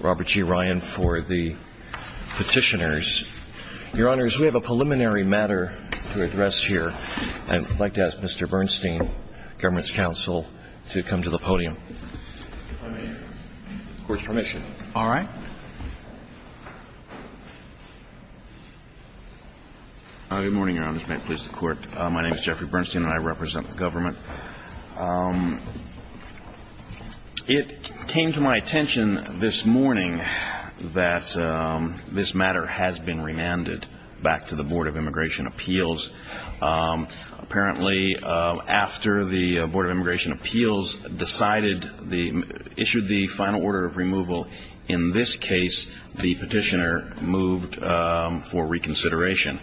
Robert G. Ryan for the petitioners. Your Honors, we have a preliminary matter to address here. I'd like to ask Mr. Bernstein, government's counsel, to come to the podium. If I may. Court's permission. All right. Good morning, Your Honors. May it please the Court. My name is Jeffrey Bernstein and I represent the government. It came to my attention this morning that this matter has been remanded back to the Board of Immigration Appeals. Apparently, after the Board of Immigration Appeals decided, issued the final order of removal, in this case, the petitioner moved for reconsideration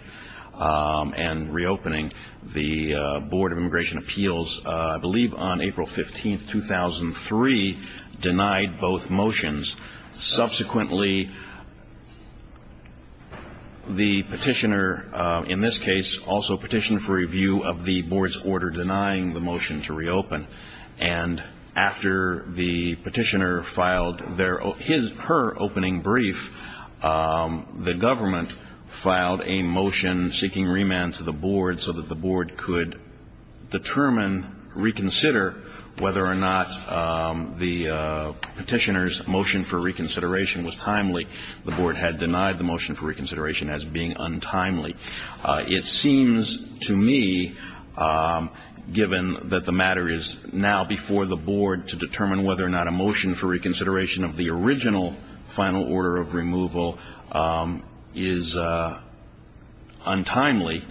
and reopening. The Board of Immigration Appeals, I believe on April 15, 2003, denied both motions. Subsequently, the petitioner, in this case, also petitioned for review of the Board's order denying the motion to reopen. And after the petitioner filed her opening brief, the government filed a motion seeking remand to the Board so that the Board could determine, reconsider whether or not the petitioner's motion for reconsideration was timely. The Board had denied the motion for reconsideration as being untimely. It seems to me, given that the matter is now before the Board to determine whether or not a motion for reconsideration of the original final order of removal is untimely,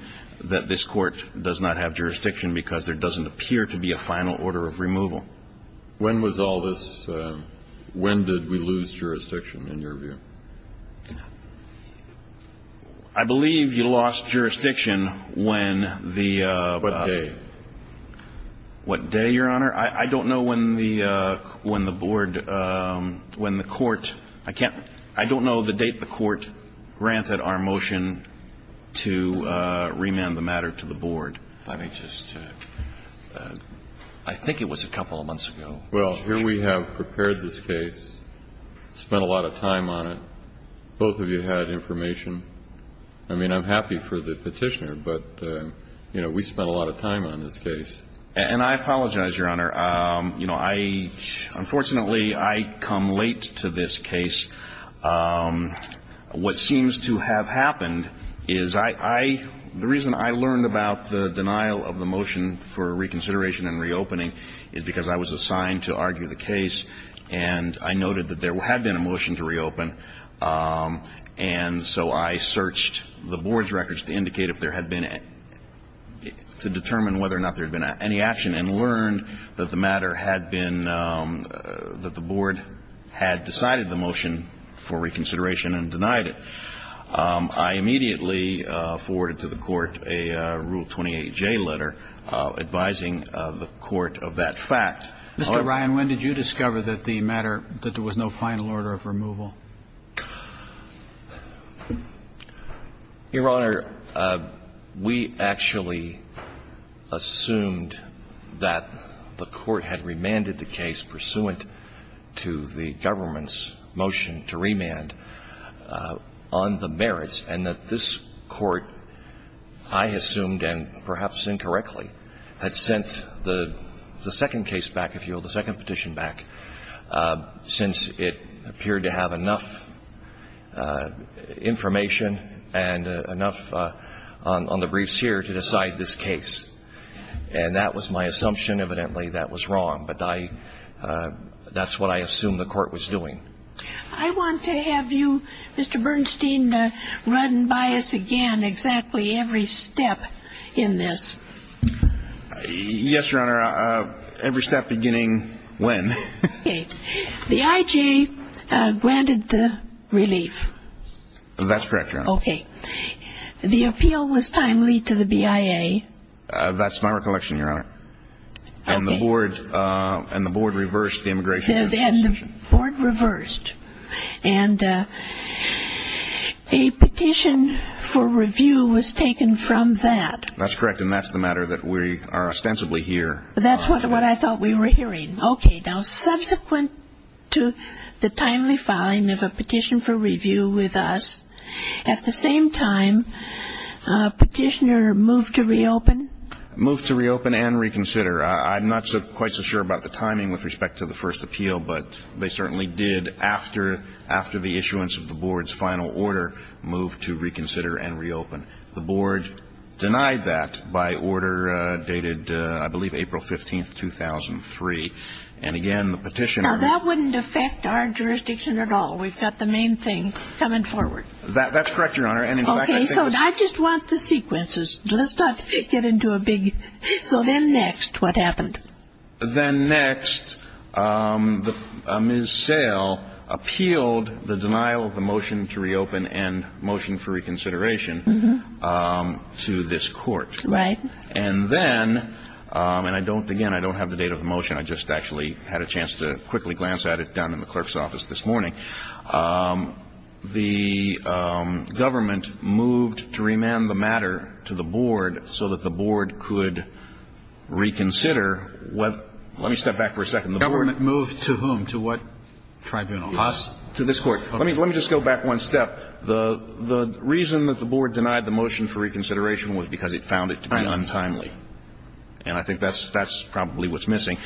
that this Court does not have jurisdiction because there doesn't appear to be a final order of removal. When was all this? When did we lose jurisdiction, in your view? I believe you lost jurisdiction when the ---- What day? What day, Your Honor? I don't know when the Board, when the Court, I can't, I don't know the date the Court granted our motion to remand the matter to the Board. Let me just, I think it was a couple of months ago. Well, here we have prepared this case, spent a lot of time on it. Both of you had information. I mean, I'm happy for the petitioner, but, you know, we spent a lot of time on this case. And I apologize, Your Honor. You know, I, unfortunately, I come late to this case. What seems to have happened is I, I, the reason I learned about the denial of the motion for reconsideration and reopening is because I was assigned to argue the case, and I noted that there had been a motion to reopen. And so I searched the Board's records to indicate if there had been, to determine whether or not there had been any action, and learned that the matter had been, that the Board had decided the motion for reconsideration and denied it. I immediately forwarded to the Court a Rule 28J letter advising the Court of that fact. Mr. Ryan, when did you discover that the matter, that there was no final order of removal? Your Honor, we actually assumed that the Court had remanded the case pursuant to the government's motion to remand on the merits, and that this Court, I assumed and perhaps incorrectly, had sent the second case back, if you will, the second petition back, since it appeared to have enough information and enough on the briefs here to decide this case. And that was my assumption. Evidently, that was wrong. But I, that's what I assumed the Court was doing. I want to have you, Mr. Bernstein, run by us again exactly every step in this. Yes, Your Honor. Every step beginning when? Okay. The IJ granted the relief. That's correct, Your Honor. Okay. The appeal was timely to the BIA. That's my recollection, Your Honor. Okay. And the Board reversed the immigration decision. And the Board reversed. And a petition for review was taken from that. That's correct. And that's the matter that we are ostensibly here. That's what I thought we were hearing. Okay. Now, subsequent to the timely filing of a petition for review with us, at the same time, petitioner moved to reopen? Moved to reopen and reconsider. I'm not quite so sure about the timing with respect to the first appeal, but they certainly did, after the issuance of the Board's final order, move to reconsider and reopen. The Board denied that by order dated, I believe, April 15, 2003. And, again, the petitioner ---- Now, that wouldn't affect our jurisdiction at all. We've got the main thing coming forward. That's correct, Your Honor. And, in fact, I think ---- Okay. So I just want the sequences. Let's not get into a big ---- So then next, what happened? Then next, Ms. Sale appealed the denial of the motion to reopen and motion for reconsideration. And then, again, I don't have the date of the motion. I just actually had a chance to quickly glance at it down in the clerk's office this morning. The government moved to remand the matter to the Board so that the Board could reconsider. Let me step back for a second. The government moved to whom, to what tribunal? Us. To this Court. Let me just go back one step. The reason that the Board denied the motion for reconsideration was because it found it to be untimely. And I think that's probably what's missing.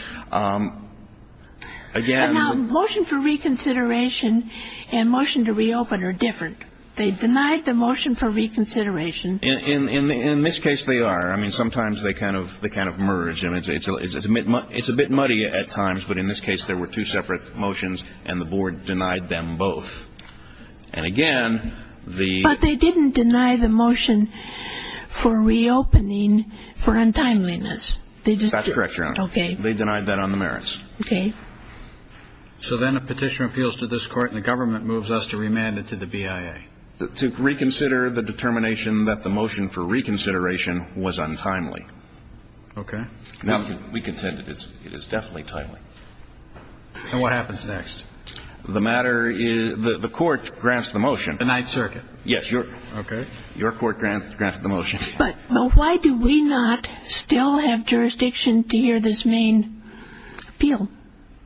Again ---- Now, motion for reconsideration and motion to reopen are different. They denied the motion for reconsideration. In this case, they are. I mean, sometimes they kind of merge. And it's a bit muddy at times, but in this case there were two separate motions and the Board denied them both. And, again, the ---- But they didn't deny the motion for reopening for untimeliness. They just ---- That's correct, Your Honor. Okay. They denied that on the merits. Okay. So then a petitioner appeals to this Court and the government moves us to remand it to the BIA. To reconsider the determination that the motion for reconsideration was untimely. Okay. Now, we contend it is definitely timely. And what happens next? The matter is the Court grants the motion. The Ninth Circuit. Yes. Okay. Your Court granted the motion. But why do we not still have jurisdiction to hear this main appeal?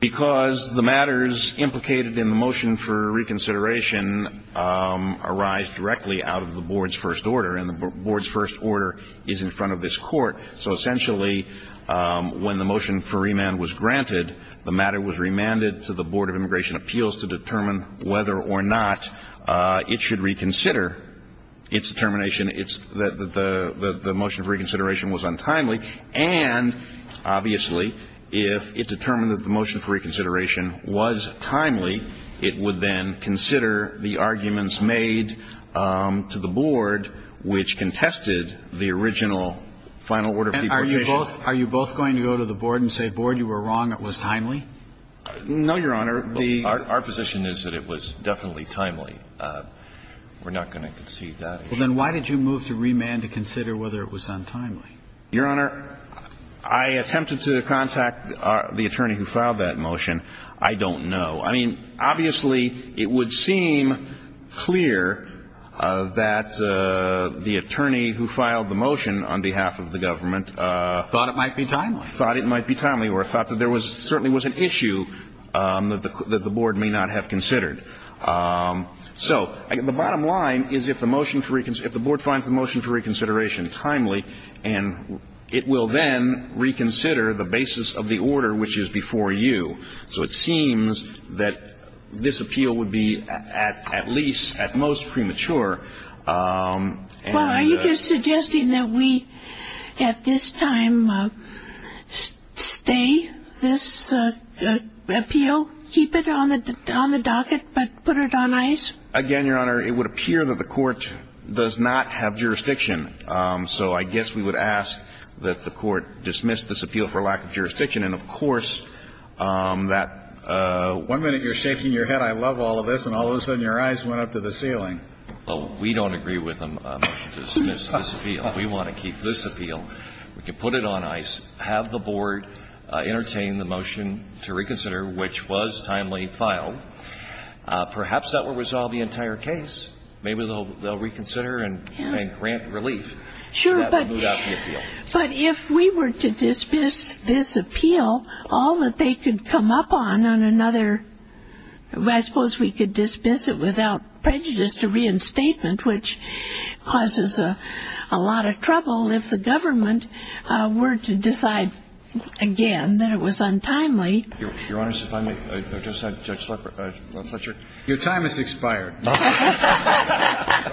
Because the matters implicated in the motion for reconsideration arise directly out of the Board's first order. And the Board's first order is in front of this Court. So, essentially, when the motion for remand was granted, the matter was remanded to the Board of Immigration Appeals to determine whether or not it should reconsider its determination that the motion for reconsideration was untimely. And, obviously, if it determined that the motion for reconsideration was timely, it would then consider the arguments made to the Board, which contested the original final order of the petition. And are you both going to go to the Board and say, Board, you were wrong, it was timely? No, Your Honor. Our position is that it was definitely timely. We're not going to concede that. Well, then why did you move to remand to consider whether it was untimely? Your Honor, I attempted to contact the attorney who filed that motion. I don't know. I mean, obviously, it would seem clear that the attorney who filed the motion on behalf of the government ---- Thought it might be timely. ----thought it might be timely or thought that there certainly was an issue that the Board may not have considered. So the bottom line is if the motion for ---- if the Board finds the motion for reconsideration timely, and it will then reconsider the basis of the order which is before you. So it seems that this appeal would be at least, at most, premature. Well, are you suggesting that we at this time stay this appeal, keep it on the docket, but put it on ice? Again, Your Honor, it would appear that the Court does not have jurisdiction. So I guess we would ask that the Court dismiss this appeal for lack of jurisdiction. And, of course, that one minute you're shaking your head, I love all of this, and all of a sudden your eyes went up to the ceiling. Well, we don't agree with a motion to dismiss this appeal. We want to keep this appeal. We can put it on ice, have the Board entertain the motion to reconsider, which was timely filed. Perhaps that will resolve the entire case. Maybe they'll reconsider and grant relief. Sure. But if we were to dismiss this appeal, all that they could come up on, on another ---- I suppose we could dismiss it without prejudice to reinstatement, which causes a lot of trouble if the government were to decide again that it was untimely. Your Honor, if I may, Judge Fletcher, your time has expired. Go ahead.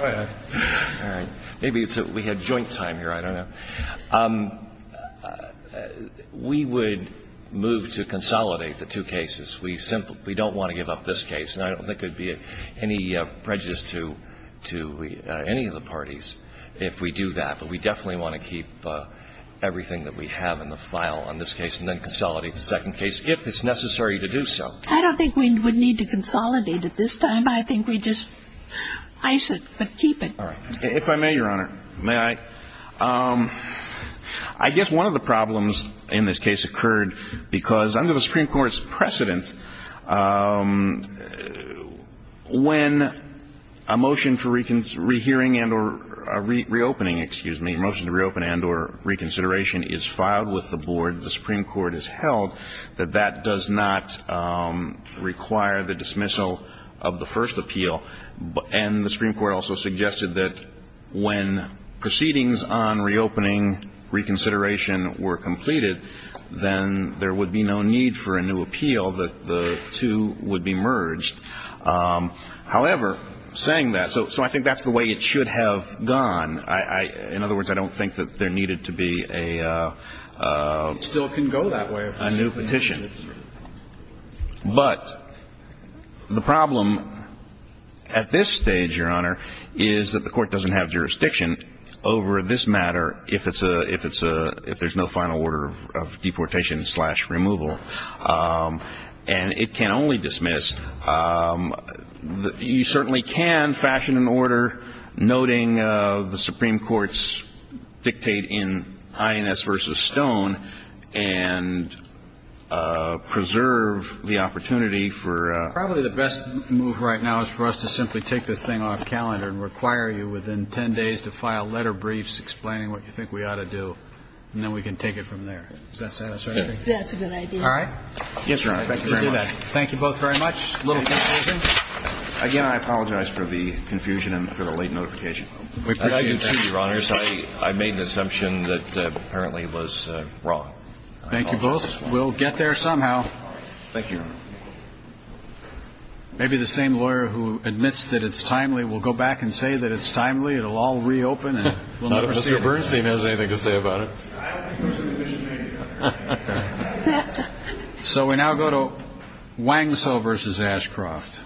All right. Maybe it's that we had joint time here. I don't know. We would move to consolidate the two cases. We simply don't want to give up this case. And I don't think it would be any prejudice to any of the parties if we do that. But we definitely want to keep everything that we have in the file on this case and then consolidate the second case if it's necessary to do so. I don't think we would need to consolidate at this time. But I think we just ice it, but keep it. All right. If I may, Your Honor, may I? I guess one of the problems in this case occurred because under the Supreme Court's precedent, when a motion for rehearing and or reopening, excuse me, a motion to reopen and or reconsideration is filed with the board, the Supreme Court has held that that does not require the dismissal of the first appeal. And the Supreme Court also suggested that when proceedings on reopening, reconsideration were completed, then there would be no need for a new appeal, that the two would be merged. However, saying that, so I think that's the way it should have gone. In other words, I don't think that there needed to be a new petition. But the problem at this stage, Your Honor, is that the court doesn't have jurisdiction over this matter if it's a, if it's a, if there's no final order of deportation slash removal. And it can only dismiss. You certainly can fashion an order noting the Supreme Court's dictate in INS versus the one I just brought up we know is not a good one. So we now go to Wangso versus Ashcroft.